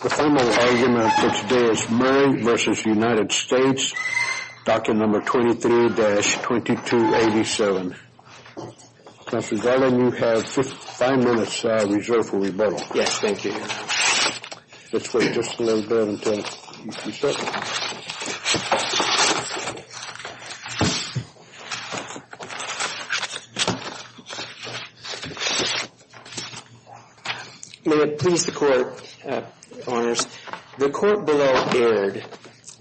23-2287. Mr. Garland, you have five minutes reserved for rebuttal. Yes, thank you. Let's wait just a little bit until you can start. May it please the Court, Honors, the Court below erred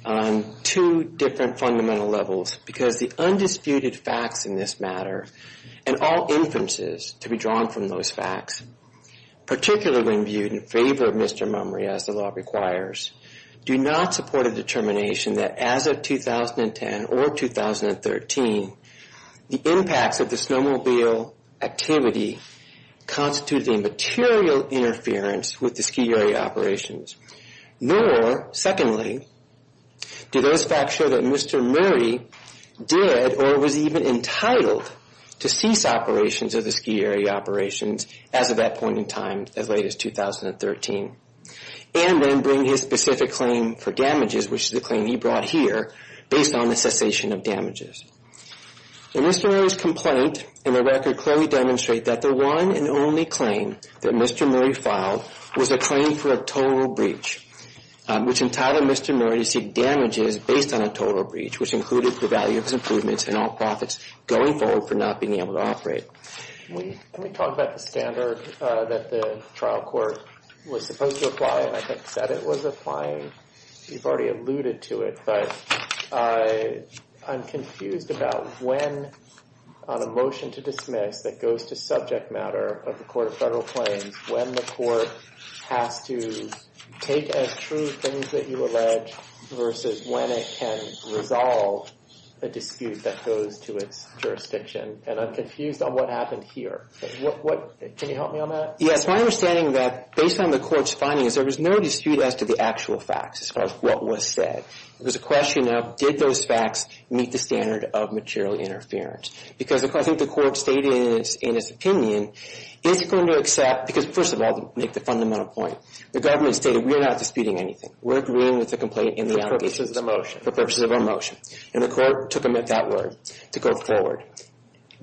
on two different fundamental levels because the undisputed facts in this matter and all inferences to be drawn from those facts, particularly when viewed in favor of Mr. Mumrey, as the law requires, do not support a determination that as of 2010 or 2013, the impacts of the snowmobile activity constituted a material interference with the ski area operations, nor, secondly, do those facts show that Mr. Murray did or was even entitled to cease operations of the ski area operations as of that point in time as late as 2013, and then bring his specific claim for damages, which is the claim he brought here, based on the cessation of damages. In Mr. Murray's complaint, in the record clearly demonstrate that the one and only claim that Mr. Murray filed was a claim for a total breach, which entitled Mr. Murray to seek damages based on a total breach, which included the value of his improvements and all profits going forward for not being able to operate. Let me talk about the standard that the trial court was supposed to apply, and I think the standard was applying, you've already alluded to it, but I'm confused about when on a motion to dismiss that goes to subject matter of the Court of Federal Claims, when the court has to take as true things that you allege versus when it can resolve a dispute that goes to its jurisdiction, and I'm confused on what happened here. Can you help me on that? Yes, my understanding of that, based on the court's findings, there was no dispute as to the actual facts as far as what was said. It was a question of, did those facts meet the standard of material interference? Because I think the court stated in its opinion, it's going to accept, because first of all, to make the fundamental point, the government stated, we're not disputing anything. We're agreeing with the complaint in the allegations. For purposes of a motion. For purposes of a motion. And the court took that word to go forward.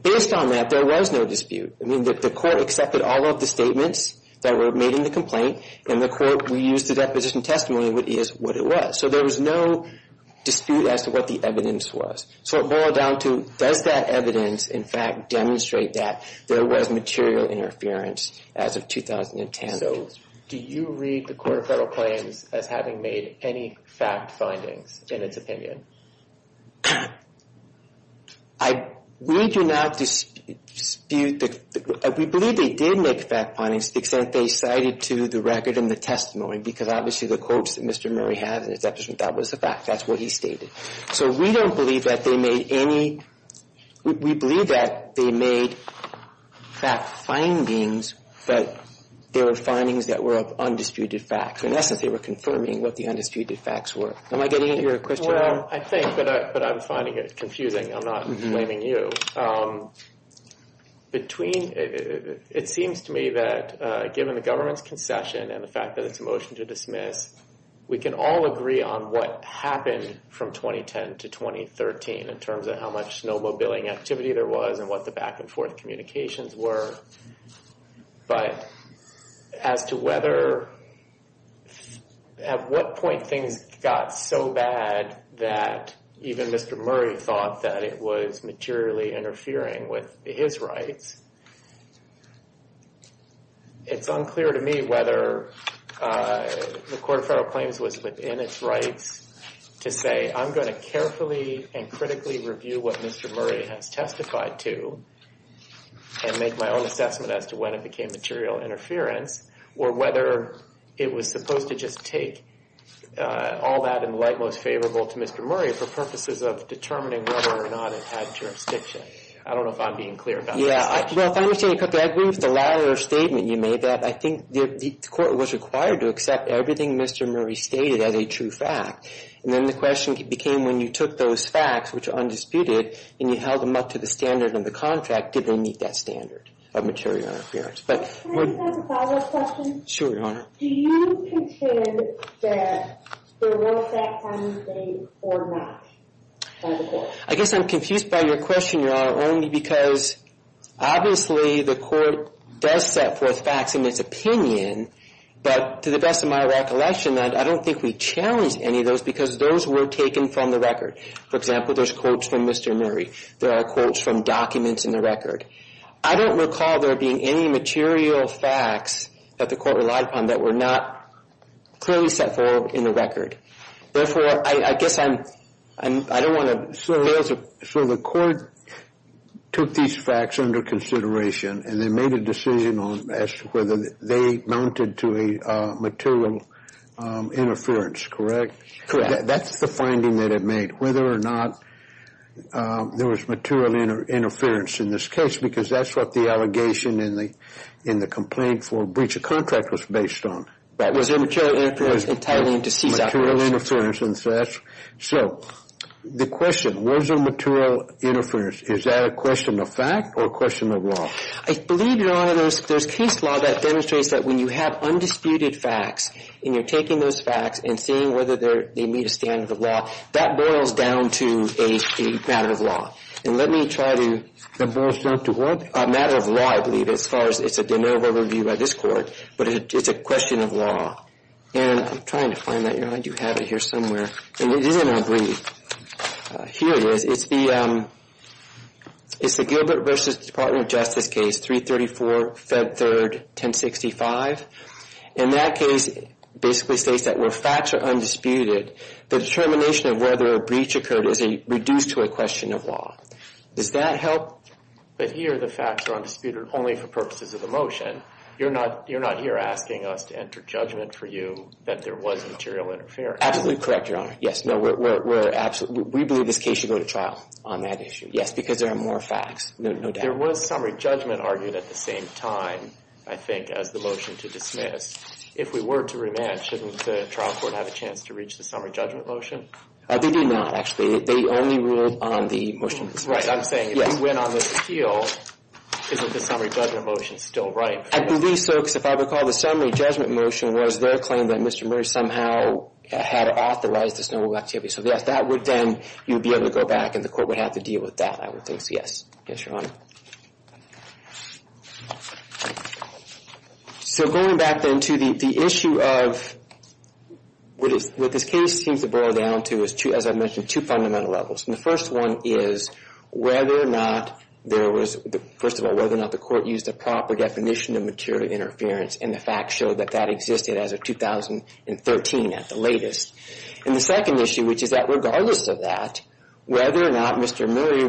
Based on that, there was no dispute. I mean, the court accepted all of the statements that were made in the complaint, and the court reused the deposition testimony, which is what it was. So there was no dispute as to what the evidence was. So it boiled down to, does that evidence in fact demonstrate that there was material interference as of 2010? So, do you read the Court of Federal Claims as having made any fact findings, in its opinion? I, we do not dispute the, we believe they did make fact findings to the extent they cited to the record in the testimony. Because obviously the quotes that Mr. Murray had in his deposition, that was the fact. That's what he stated. So we don't believe that they made any, we believe that they made fact findings, but they were findings that were of undisputed facts. In essence, they were confirming what the undisputed facts were. Am I getting at your question? Well, I think, but I'm finding it confusing. I'm not blaming you. Between, it seems to me that given the government's concession and the fact that it's a motion to dismiss, we can all agree on what happened from 2010 to 2013 in terms of how much snowmobiling activity there was and what the back and forth communications were. But as to whether, at what point things got so bad that even Mr. Murray thought that it was materially interfering with his rights, it's unclear to me whether the Court of Federal Claims was within its rights to say, I'm going to carefully and critically review what Mr. Murray said in my own assessment as to when it became material interference, or whether it was supposed to just take all that in the light most favorable to Mr. Murray for purposes of determining whether or not it had jurisdiction. I don't know if I'm being clear about that. Yeah, well, if I understand you correctly, I agree with the latter statement you made, that I think the Court was required to accept everything Mr. Murray stated as a true fact, and then the question became when you took those facts, which are undisputed, and you held them up to the standard of the contract, did they meet that standard of material interference? Can I just ask a follow-up question? Sure, Your Honor. Do you consider that there were facts on the state or not by the Court? I guess I'm confused by your question, Your Honor, only because obviously the Court does set forth facts in its opinion, but to the best of my recollection, I don't think we challenged any of those because those were taken from the record. For example, there's quotes from Mr. Murray. There are quotes from documents in the record. I don't recall there being any material facts that the Court relied upon that were not clearly set forth in the record. Therefore, I guess I don't want to fail to... So the Court took these facts under consideration and then made a decision on whether they mounted to a material interference, correct? Correct. That's the finding that it made, whether or not there was material interference in this case, because that's what the allegation in the complaint for breach of contract was based on. That was a material interference entitling to cease operations. Material interference, and so that's... So the question, was there material interference, is that a question of fact or a question of law? I believe, Your Honor, there's case law that demonstrates that when you have undisputed facts and you're taking those facts and seeing whether they meet a standard of law, that boils down to a matter of law. And let me try to... That boils down to what? A matter of law, I believe, as far as it's a de novo review by this Court, but it's a question of law. And I'm trying to find that. Your Honor, I do have it here somewhere, and it isn't on brief. Here it is. It's the Gilbert v. Department of Justice case 334, Feb. 3, 1065. And that case basically states that where facts are undisputed, the determination of whether a breach occurred is reduced to a question of law. Does that help? But here the facts are undisputed only for purposes of the motion. You're not here asking us to enter judgment for you that there was material interference. Absolutely correct, Your Honor. Yes, no, we believe this case should go to trial on that issue. Yes, because there are more facts, no doubt. There was summary judgment argued at the same time, I think, as the motion to dismiss. If we were to rematch, shouldn't the trial court have a chance to reach the summary judgment motion? They do not, actually. They only ruled on the motion to dismiss. Right, I'm saying if you win on this appeal, isn't the summary judgment motion still running? I believe so, because if I recall, the summary judgment motion was their claim that Mr. Murray somehow had authorized this noble activity. So, yes, that would then... You would be able to go back, and the Court would have to deal with that, I would think, so yes. Yes, Your Honor. So, going back then to the issue of what this case seems to boil down to is, as I mentioned, two fundamental levels. And the first one is whether or not there was, first of all, whether or not the Court used a proper definition of material interference, and the facts show that that existed as of 2013 at the latest. And the second issue, which is that regardless of that, whether or not Mr. Murray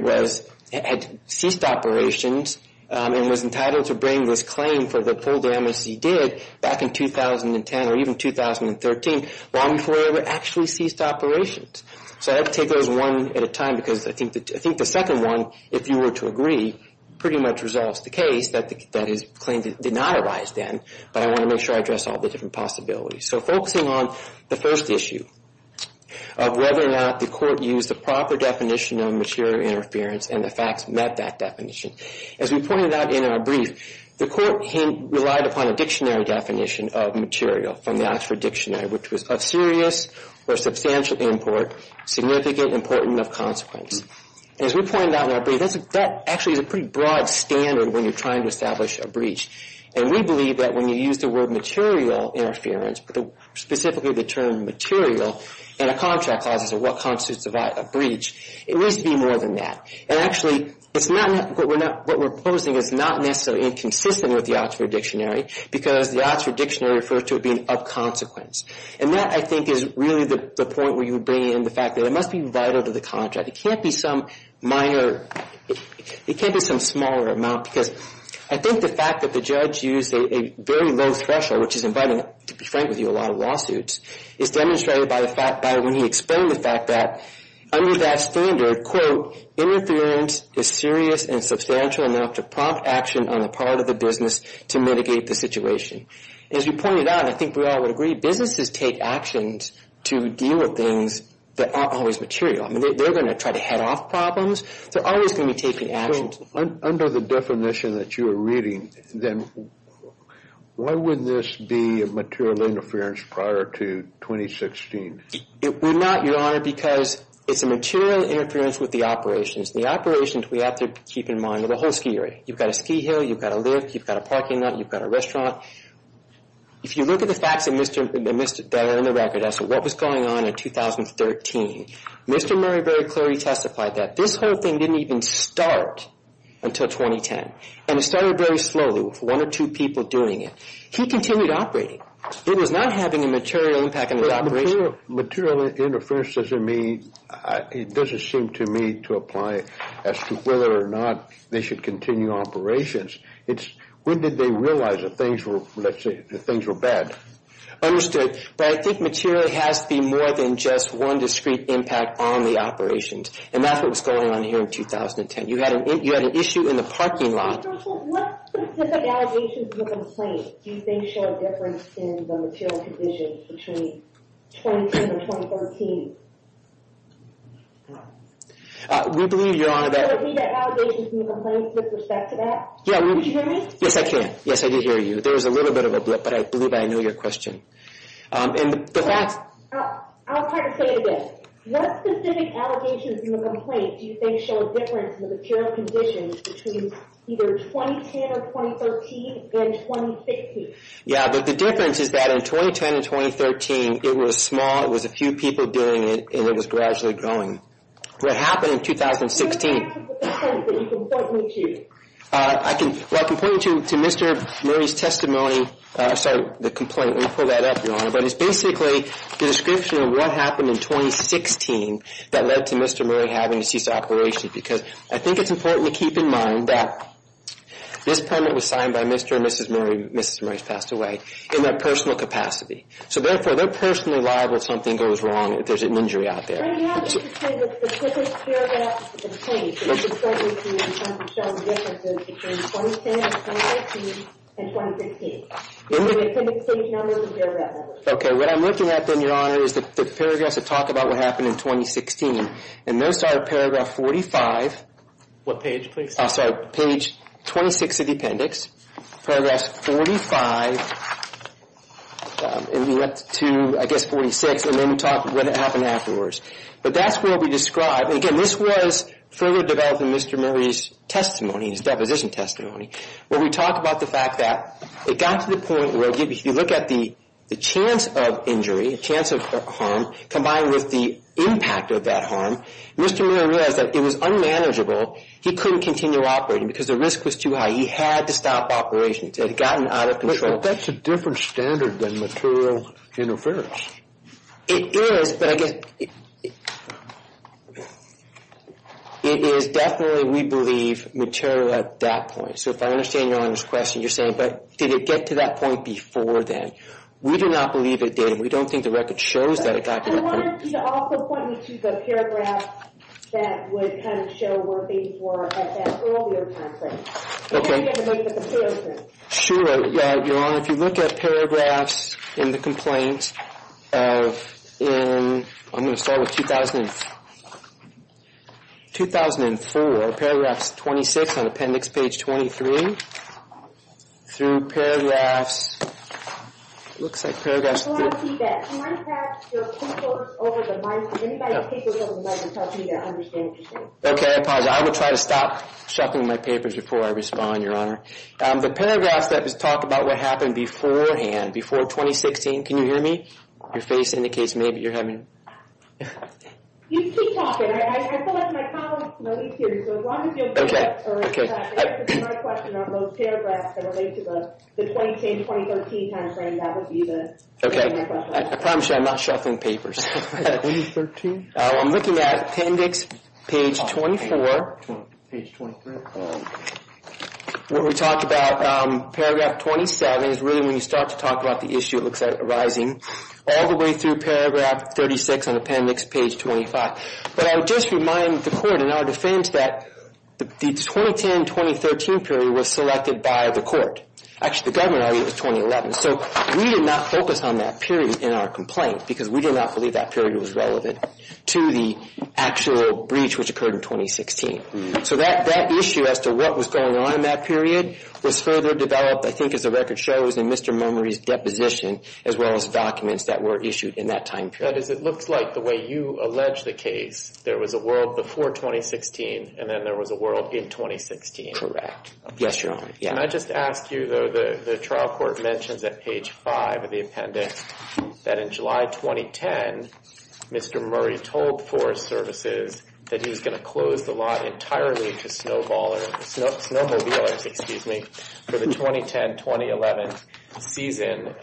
had ceased operations and was entitled to bring this claim for the poor damage he did back in 2010 or even 2013, long before he ever actually ceased operations. So, I have to take those one at a time, because I think the second one, if you were to agree, pretty much resolves the case that his claim did not arise then, but I want to make sure I address all the different possibilities. So, focusing on the first issue of whether or not the Court used the proper definition of material interference, and the facts met that definition, as we pointed out in our brief, the Court relied upon a dictionary definition of material from the Oxford Dictionary, which was of serious or substantial import, significant, important, of consequence. As we pointed out in our brief, that actually is a pretty broad standard when you're trying to establish a breach. And we believe that when you use the word material interference, specifically the term material in a contract clauses of what constitutes a breach, it needs to be more than that. And actually, what we're proposing is not necessarily inconsistent with the Oxford Dictionary, because the Oxford Dictionary refers to it being of consequence. And that, I think, is really the point where you bring in the fact that it must be vital to the contract. It can't be some minor, it can't be some smaller amount, because I think the fact that the judge used a very low threshold, which is inviting, to be frank with you, a lot of lawsuits, is demonstrated by the fact that when he explained the fact that under that standard, quote, interference is serious and substantial enough to prompt action on the part of the business to mitigate the situation. As you pointed out, I think we all would agree, businesses take actions to deal with things that aren't always material. I mean, they're going to try to head off problems. They're always going to be taking actions. Under the definition that you are reading, then, why would this be a material interference prior to 2016? It would not, Your Honor, because it's a material interference with the operations. The operations we have to keep in mind are the whole ski area. You've got a ski hill, you've got a lift, you've got a parking lot, you've got a restaurant. If you look at the facts that are in the record as to what was going on in 2013, Mr. Murray very clearly testified that this whole thing didn't even start until 2010. And it started very slowly with one or two people doing it. He continued operating. It was not having a material impact on the operation. Material interference doesn't seem to me to apply as to whether or not they should continue operations. It's when did they realize that things were, let's say, that things were bad? Understood. But I think material has to be more than just one discrete impact on the operations. And that's what was going on here in 2010. You had an issue in the parking lot. Mr. O'Rourke, what specific allegations and complaints do you think show a difference in the material conditions between 2010 and 2013? We believe, Your Honor, that... Can you repeat the allegations and the complaints with respect to that? Yeah, we... Can you hear me? Yes, I can. Yes, I did hear you. But there was a little bit of a blip, but I believe I know your question. And the fact... I'll try to say it again. What specific allegations and the complaints do you think show a difference in the material conditions between either 2010 or 2013 and 2016? Yeah, but the difference is that in 2010 and 2013, it was small. It was a few people doing it, and it was gradually growing. What happened in 2016... What are the factors of the complaints that you can point me to? I can point you to Mr. Murray's testimony... Sorry, the complaint. Let me pull that up, Your Honor. But it's basically the description of what happened in 2016 that led to Mr. Murray having to cease operations. Because I think it's important to keep in mind that this permit was signed by Mr. and Mrs. Murray. Mrs. Murray has passed away in their personal capacity. So therefore, they're personally liable if something goes wrong, if there's an injury out there. Mr. Murray, do you have anything to say about the specific paragraphs of the case that you can point me to in terms of showing the differences between 2010, 2013, and 2016? Do you have the appendix page numbers or paragraph numbers? Okay, what I'm looking at then, Your Honor, is the paragraphs that talk about what happened in 2016. And those are paragraph 45... What page, please? I'm sorry, page 26 of the appendix. Paragraph 45, and we went to, I guess, 46, and then we talked about what happened afterwards. But that's what we described. And again, this was further developed in Mr. Murray's testimony, his deposition testimony, where we talk about the fact that it got to the point where if you look at the chance of injury, chance of harm, combined with the impact of that harm, Mr. Murray realized that it was unmanageable. He couldn't continue operating because the risk was too high. He had to stop operations. It had gotten out of control. But that's a different standard than material interference. It is, but I guess... It is definitely, we believe, material at that point. So if I understand Your Honor's question, you're saying, but did it get to that point before then? We do not believe it did. We don't think the record shows that it got to that point. I wanted you to also point me to the paragraph that would kind of show where things were at that earlier time frame. Okay. I want you to look at the paragraphs. Sure, Your Honor. If you look at paragraphs in the complaint of, in, I'm going to start with 2004. Paragraphs 26 on appendix page 23, through paragraphs, it looks like paragraphs... I want to see that. Can I have your papers over the microphone? Anybody's papers over the microphone to help me to understand what you're saying. Okay, I apologize. I will try to stop shuffling my papers before I respond, Your Honor. The paragraphs that talk about what happened beforehand, before 2016. Can you hear me? Your face indicates maybe you're having... You keep talking. I feel like my colleagues know me too, so as long as you don't interrupt or interrupt my question on those paragraphs that relate to the 2010-2013 time frame, that would be the... Okay, I promise you I'm not shuffling papers. I'm looking at appendix page 24. Page 23. What we talked about, paragraph 27, is really when you start to talk about the issue, it looks like arising all the way through paragraph 36 on appendix page 25. But I would just remind the court in our defense that the 2010-2013 period was selected by the court. Actually, the government argued it was 2011, so we did not focus on that period in our complaint because we did not believe that period was relevant. To the actual breach which occurred in 2016. So that issue as to what was going on in that period was further developed, I think as the record shows, in Mr. Murmury's deposition, as well as documents that were issued in that time period. That is, it looks like the way you allege the case, there was a world before 2016 and then there was a world in 2016. Correct. Yes, Your Honor. Can I just ask you, though, the trial court mentions at page 5 of the appendix that in July 2010, Mr. Murmury told Forest Services that he was going to close the lot entirely to snowmobiles for the 2010-2011 season.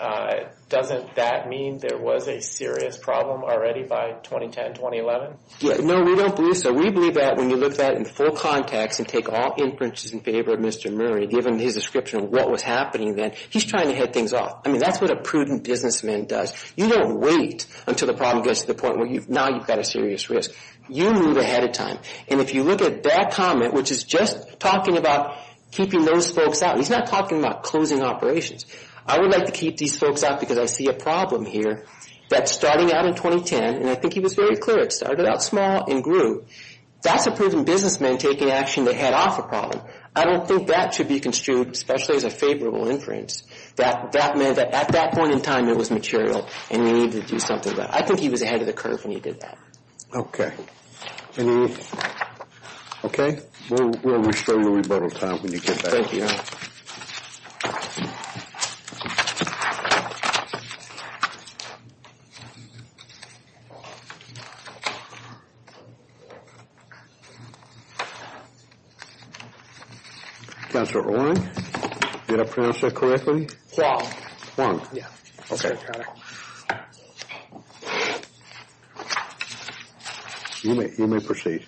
Doesn't that mean there was a serious problem already by 2010-2011? No, we don't believe so. We believe that when you look at it in full context and take all inferences in favor of Mr. Murmury, given his description of what was happening then, he's trying to head things off. I mean, that's what a prudent businessman does. You don't wait until the problem gets to the point where now you've got a serious risk. You move ahead of time. And if you look at that comment, which is just talking about keeping those folks out, he's not talking about closing operations. I would like to keep these folks out because I see a problem here that's starting out in 2010, and I think he was very clear, it started out small and grew. That's a prudent businessman taking action to head off a problem. I don't think that should be construed, especially as a favorable inference, that at that point in time it was material and you needed to do something about it. I think he was ahead of the curve when he did that. Okay. Okay? We'll restore your rebuttal time when you get back. Thank you, Your Honor. Okay. Counselor Oren. Did I pronounce that correctly? Yeah. Okay. You may proceed.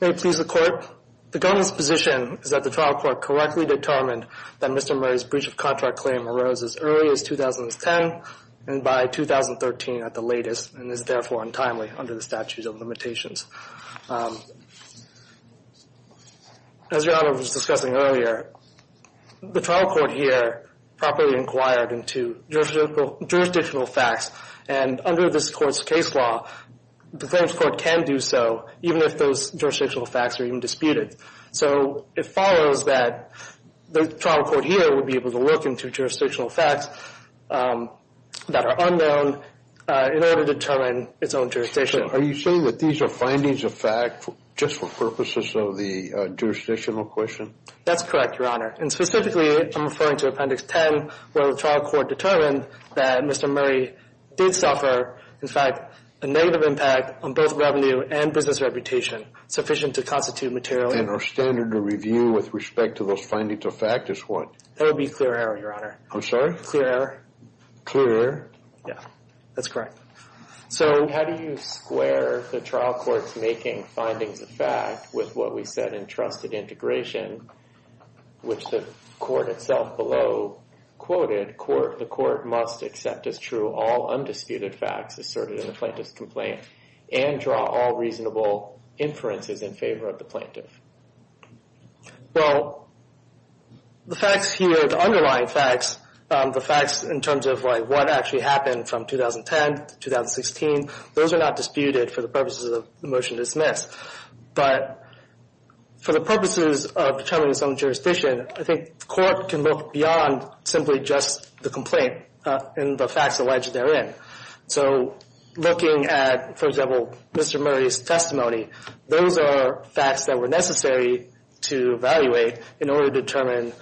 May it please the Court. The government's position is that the trial court correctly determined that Mr. Murray's breach of contract claim arose as early as 2010 and by 2013 at the latest and is therefore untimely under the statute of limitations. As Your Honor was discussing earlier, the trial court here properly inquired into jurisdictional facts and under this court's case law, the claims court can do so even if those jurisdictional facts are even disputed. So it follows that the trial court here would be able to look into jurisdictional facts that are unknown in order to determine its own jurisdiction. So are you saying that these are findings of fact just for purposes of the jurisdictional question? That's correct, Your Honor. And specifically, I'm referring to Appendix 10 where the trial court determined that Mr. Murray did suffer, in fact, a negative impact on both revenue and business reputation sufficient to constitute material evidence. And our standard of review with respect to those findings of fact is what? That would be clear error, Your Honor. I'm sorry? Clear error. Clear error? Yeah, that's correct. So how do you square the trial court's making findings of fact with what we said in trusted integration, which the court itself below quoted, the court must accept as true all undisputed facts asserted in the plaintiff's complaint and draw all reasonable inferences in favor of the plaintiff? Well, the facts here, the underlying facts, the facts in terms of what actually happened from 2010 to 2016, those are not disputed for the purposes of the motion to dismiss. But for the purposes of determining its own jurisdiction, I think the court can look beyond simply just the complaint and the facts alleged therein. So looking at, for example, Mr. Murray's testimony, those are facts that were necessary to evaluate in order to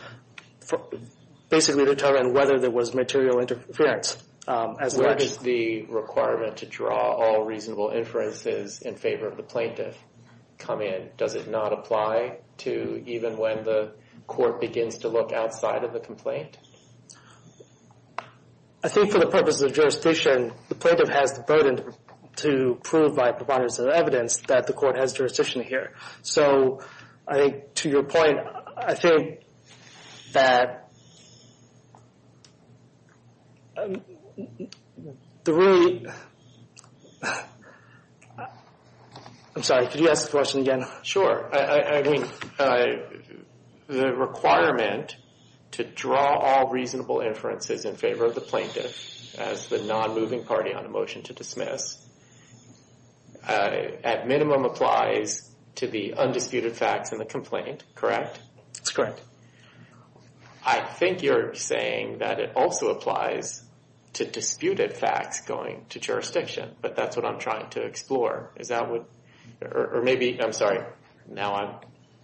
basically determine whether there was material interference. Where is the requirement to draw all reasonable inferences in favor of the plaintiff come in? Does it not apply to even when the court begins to look outside of the complaint? I think for the purposes of jurisdiction, the plaintiff has the burden to prove by providers of evidence that the court has jurisdiction here. So I think to your point, I think that... I'm sorry, could you ask the question again? I mean, the requirement to draw all reasonable inferences in favor of the plaintiff as the non-moving party on a motion to dismiss at minimum applies to the undisputed facts in the complaint, correct? That's correct. I think you're saying that it also applies to disputed facts going to jurisdiction, but that's what I'm trying to explore. Or maybe, I'm sorry, now I'm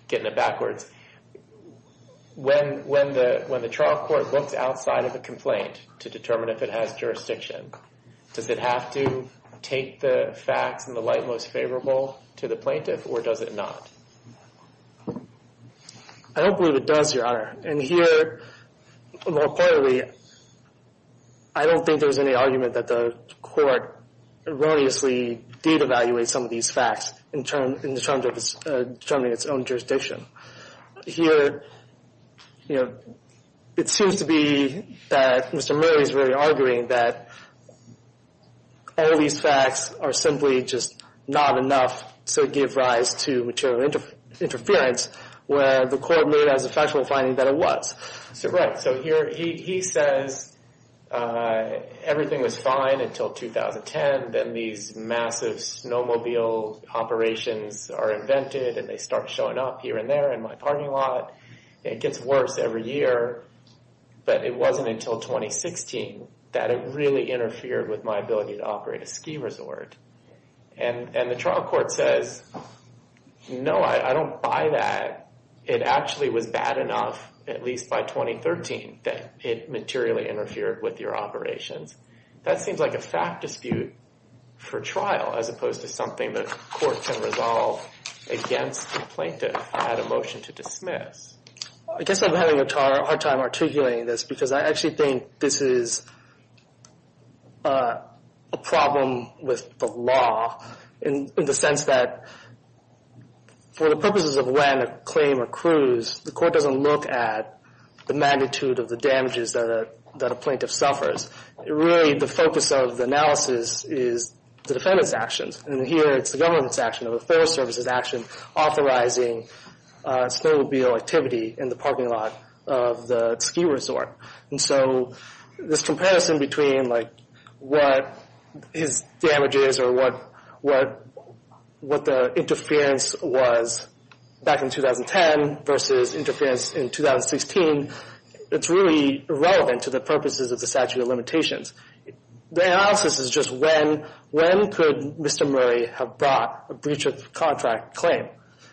getting it backwards. When the trial court looks outside of the complaint to determine if it has jurisdiction, does it have to take the facts in the light most favorable to the plaintiff, or does it not? I don't believe it does, Your Honor. And here, more importantly, I don't think there's any argument that the court erroneously did evaluate some of these facts in terms of determining its own jurisdiction. Here, you know, it seems to be that Mr. Murray is really arguing that all these facts are simply just not enough to give rise to material interference, where the court made as a factual finding that it was. Right, so here he says everything was fine until 2010, then these massive snowmobile operations are invented, and they start showing up here and there in my parking lot. It gets worse every year, but it wasn't until 2016 that it really interfered with my ability to operate a ski resort. And the trial court says, no, I don't buy that. It actually was bad enough at least by 2013 that it materially interfered with your operations. That seems like a fact dispute for trial as opposed to something the court can resolve against the plaintiff at a motion to dismiss. I guess I'm having a hard time articulating this because I actually think this is a problem with the law in the sense that for the purposes of when a claim accrues, the court doesn't look at the magnitude of the damages that a plaintiff suffers. Really, the focus of the analysis is the defendant's actions, and here it's the government's action or the Forest Service's action authorizing snowmobile activity in the parking lot of the ski resort. And so this comparison between what his damages or what the interference was back in 2010 versus interference in 2016, it's really relevant to the purposes of the statute of limitations. The analysis is just when could Mr. Murray have brought a breach of contract claim?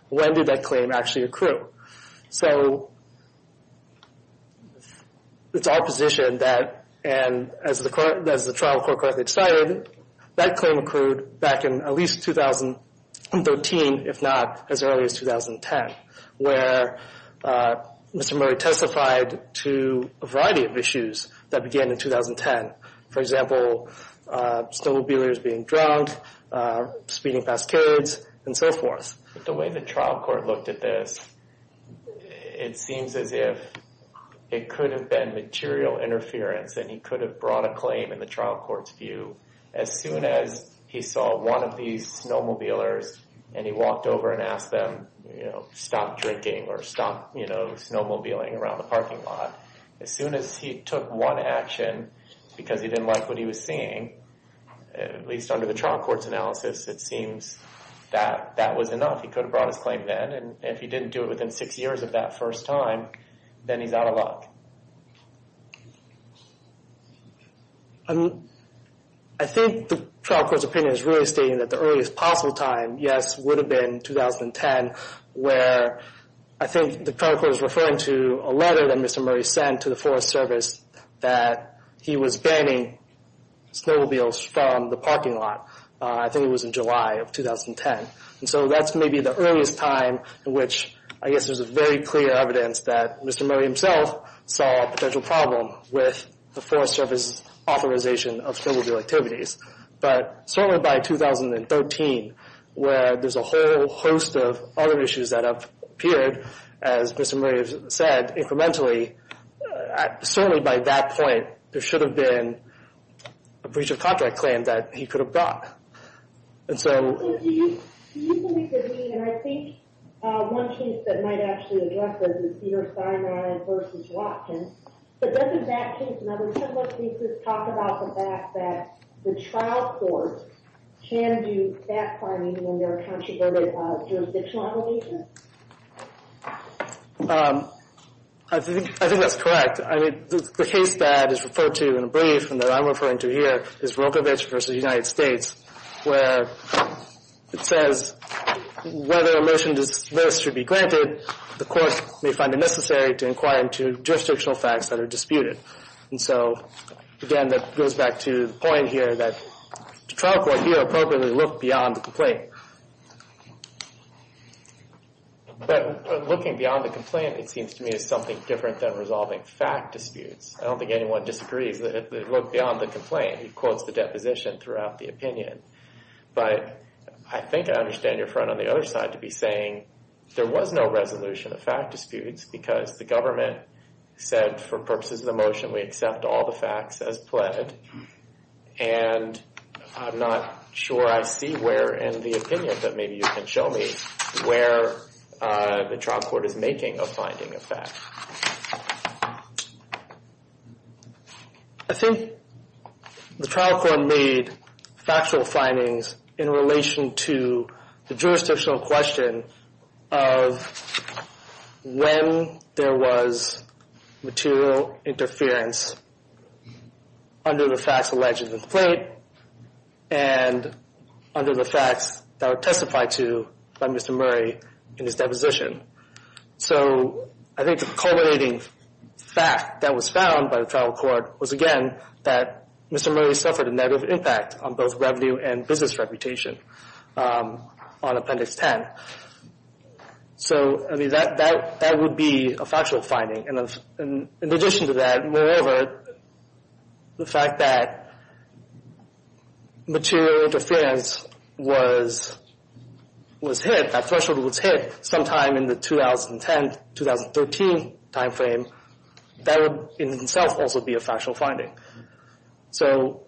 When did that claim actually accrue? So it's our position that, and as the trial court correctly decided, that claim accrued back in at least 2013, if not as early as 2010, where Mr. Murray testified to a variety of issues that began in 2010. For example, snowmobilers being drowned, speeding past kids, and so forth. The way the trial court looked at this, it seems as if it could have been material interference and he could have brought a claim in the trial court's view as soon as he saw one of these snowmobilers and he walked over and asked them, you know, stop drinking or stop, you know, snowmobiling around the parking lot. As soon as he took one action because he didn't like what he was seeing, at least under the trial court's analysis, it seems that that was enough. He could have brought his claim then. And if he didn't do it within six years of that first time, then he's out of luck. I think the trial court's opinion is really stating that the earliest possible time, yes, would have been 2010, where I think the trial court is referring to a letter that Mr. Murray sent to the Forest Service that he was banning snowmobiles from the parking lot. I think it was in July of 2010. And so that's maybe the earliest time in which, I guess there's a very clear evidence that Mr. Murray himself saw a potential problem with the Forest Service authorization of snowmobile activities. But certainly by 2013, where there's a whole host of other issues that have appeared, as Mr. Murray has said, incrementally, certainly by that point, there should have been a breach of contract claim that he could have brought. And so... Do you believe that he, and I think one case that might actually address this is Peter Steinmeier v. Watkins, but doesn't that case and other template cases talk about the fact that the trial court can do backfiring when there are controversial obligations? I think that's correct. The case that is referred to in a brief and that I'm referring to here is Rogovich v. United States, where it says, whether a motion to dismiss should be granted, the court may find it necessary to inquire into jurisdictional facts that are disputed. And so, again, that goes back to the point here that the trial court here appropriately looked beyond the complaint. But looking beyond the complaint, it seems to me, is something different than resolving fact disputes. I don't think anyone disagrees that it looked beyond the complaint. He quotes the deposition throughout the opinion. But I think I understand your friend on the other side to be saying there was no resolution of fact disputes because the government said for purposes of the motion we accept all the facts as pled. And I'm not sure I see where in the opinion, but maybe you can show me, where the trial court is making a finding of facts. I think the trial court made factual findings in relation to the jurisdictional question of when there was material interference under the facts alleged in the complaint and under the facts that were testified to by Mr. Murray in his deposition. So I think the culminating fact that was found by the trial court was, again, that Mr. Murray suffered a negative impact on both revenue and business reputation on Appendix 10. So, I mean, that would be a factual finding. In addition to that, moreover, the fact that material interference was was hit, that threshold was hit sometime in the 2010-2013 time frame, that would in itself also be a factual finding. So,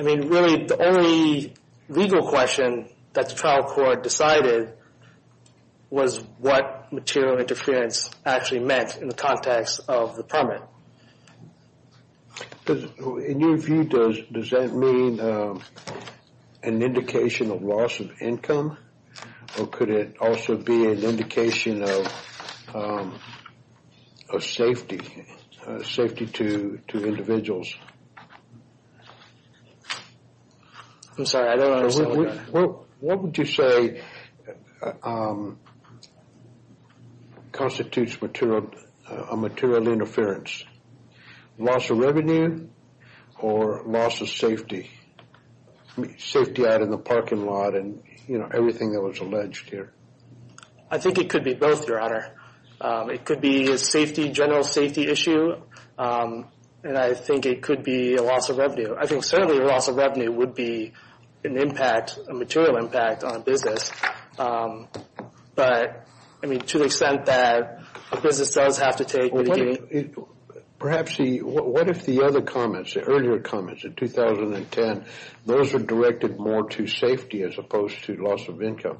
I mean, really the only legal question that the trial court decided was what material interference actually meant in the context of the permit. In your view, does that mean an indication of loss of income or could it also be an indication of of safety, safety to individuals? I'm sorry, I don't understand. What would you say constitutes a material interference? Loss of revenue or loss of safety? Safety out in the parking lot and, you know, everything that was alleged here. I think it could be both, Your Honor. It could be a safety, general safety issue and I think it could be a loss of revenue. I think certainly a loss of revenue would be an impact, a material impact on a business. But, I mean, to the extent that a business does have to take Perhaps, what if the other comments, the earlier comments in 2010, those are directed more to safety as opposed to loss of income?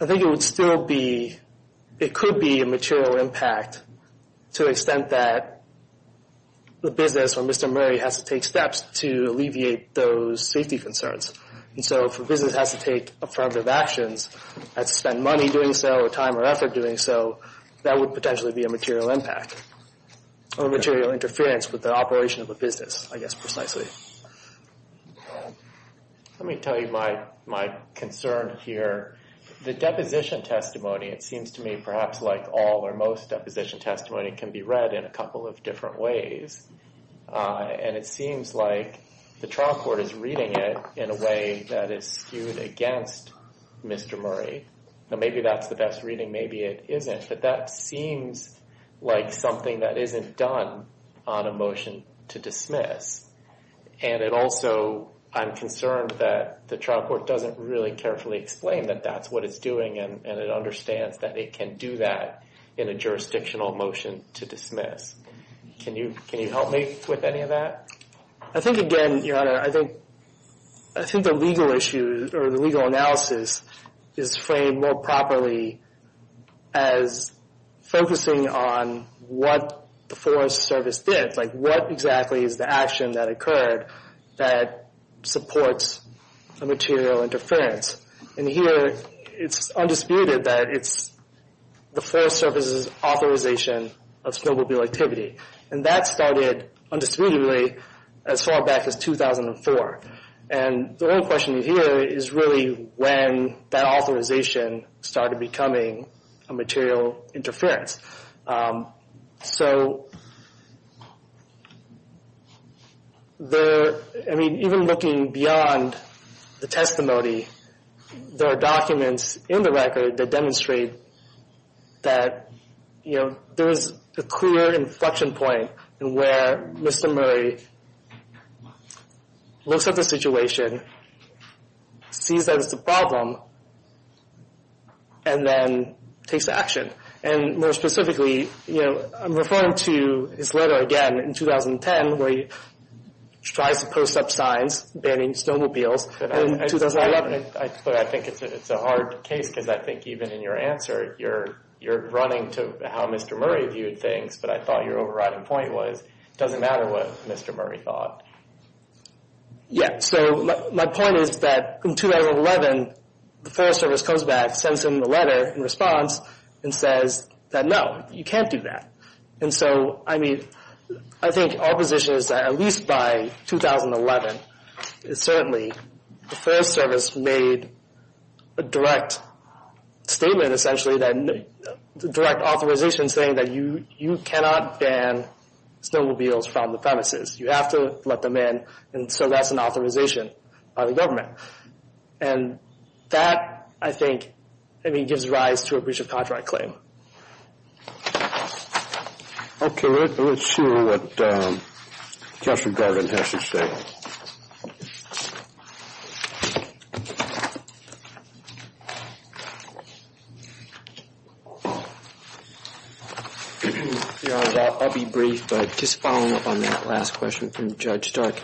I think it would still be, it could be a material impact to the extent that the business or Mr. Murray has to take steps to alleviate those safety concerns. And so if a business has to take affirmative actions and spend money doing so or time or effort doing so, that would potentially be a material impact or material interference with the operation of a business, I guess precisely. Let me tell you my concern here. The deposition testimony, it seems to me, perhaps like all or most deposition testimony, can be read in a couple of different ways. And it seems like the trial court is reading it in a way that is skewed against Mr. Murray. Maybe that's the best reading, maybe it isn't. But that seems like something that isn't done on a motion to dismiss. And it also, I'm concerned that the trial court doesn't really carefully explain that that's what it's doing, and it understands that it can do that in a jurisdictional motion to dismiss. Can you help me with any of that? I think again, Your Honor, I think the legal issue or the legal analysis is framed more properly as focusing on what the Forest Service did. Like what exactly is the action that occurred that supports a material interference? And here it's undisputed that it's the Forest Service's authorization of snowmobile activity. And that started undisputedly as far back as 2004. And the only question you hear is really when that authorization started becoming a material interference. So... I mean, even looking beyond the testimony, there are documents in the record that demonstrate that there's a clear inflection point where Mr. Murray looks at the situation, sees that it's a problem, and then takes action. And more specifically, I'm referring to his letter again in 2010 where he tries to post up signs banning snowmobiles. But I think it's a hard case because I think even in your answer, you're running to how Mr. Murray viewed things. But I thought your overriding point was it doesn't matter what Mr. Murray thought. Yeah, so my point is that in 2011, the Forest Service comes back, sends him a letter in response and says that, no, you can't do that. And so, I mean, I think our position is that at least by 2011, certainly, the Forest Service made a direct statement essentially that direct authorization saying that you cannot ban snowmobiles from the premises. You have to let them in. And so that's an authorization by the government. And that, I think, I mean, gives rise to a breach of contract claim. Okay, let's see what Counselor Garvin has to say. Yeah, I'll be brief. But just following up on that last question from Judge Stark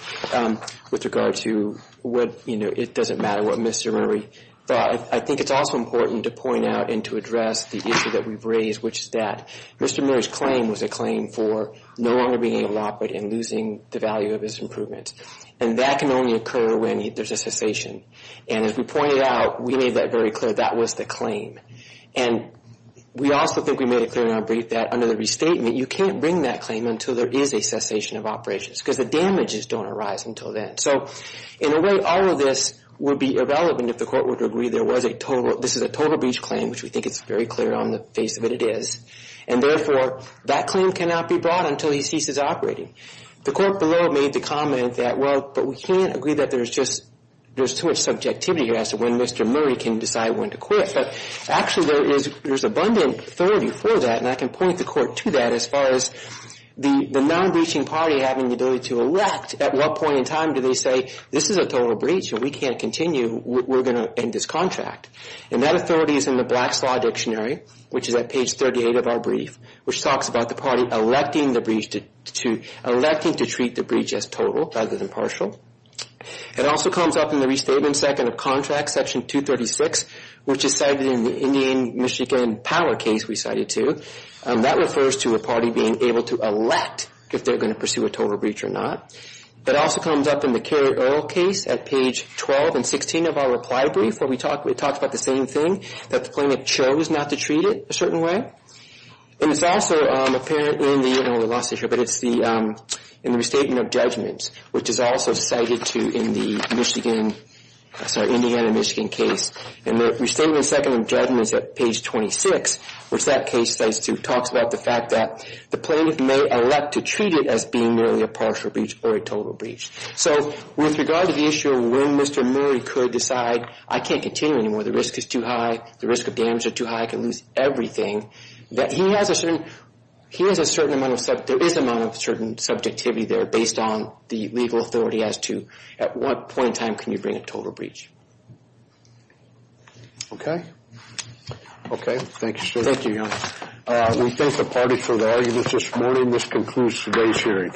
with regard to what, you know, it doesn't matter what Mr. Murray thought, I think it's also important to point out and to address the issue that we've raised, which is that Mr. Murray's claim was a claim for no longer being able to operate and losing the value of his improvements. And that can only occur when there's a cessation. And as we pointed out, we made that very clear, that was the claim. And we also think we made it clear in our brief that under the restatement, you can't bring that claim until there is a cessation of operations because the damages don't arise until then. So in a way, all of this would be irrelevant if the court were to agree there was a total, this is a total breach claim, which we think is very clear on the face of it, it is. And therefore, that claim cannot be brought until he ceases operating. The court below made the comment that, well, but we can't agree that there's just, there's too much subjectivity here as to when Mr. Murray can decide when to quit. But actually there is, there's abundant authority for that, and I can point the court to that as far as the non-breaching party having the ability to elect at what point in time do they say, this is a total breach and we can't continue, we're going to end this contract. And that authority is in the Black's Law Dictionary, which is at page 38 of our brief, which talks about the party electing the breach to, electing to treat the breach as total rather than partial. It also comes up in the Restatement Second of Contract, Section 236, which is cited in the Indian Michigan Power case we cited too. That refers to a party being able to elect if they're going to pursue a total breach or not. That also comes up in the Kerry Earl case at page 12 and 16 of our reply brief, where we talked about the same thing, that the plaintiff chose not to treat it a certain way. And it's also apparent in the, I know we lost it here, but it's the, in the Restatement of Judgments, which is also cited too in the Michigan, sorry, Indiana Michigan case. And the Restatement Second of Judgments at page 26, which that case cites too, talks about the fact that the plaintiff may elect to treat it as being merely a partial breach or a total breach. So with regard to the issue of when Mr. Murray could decide, I can't continue anymore. The risk is too high. The risk of damage is too high. I could lose everything. That he has a certain, he has a certain amount of, there is a certain amount of subjectivity there based on the legal authority as to at what point in time can you bring a total breach. Okay. Okay. Thank you, sir. Thank you, John. We thank the party for their arguments this morning. And this concludes today's hearing.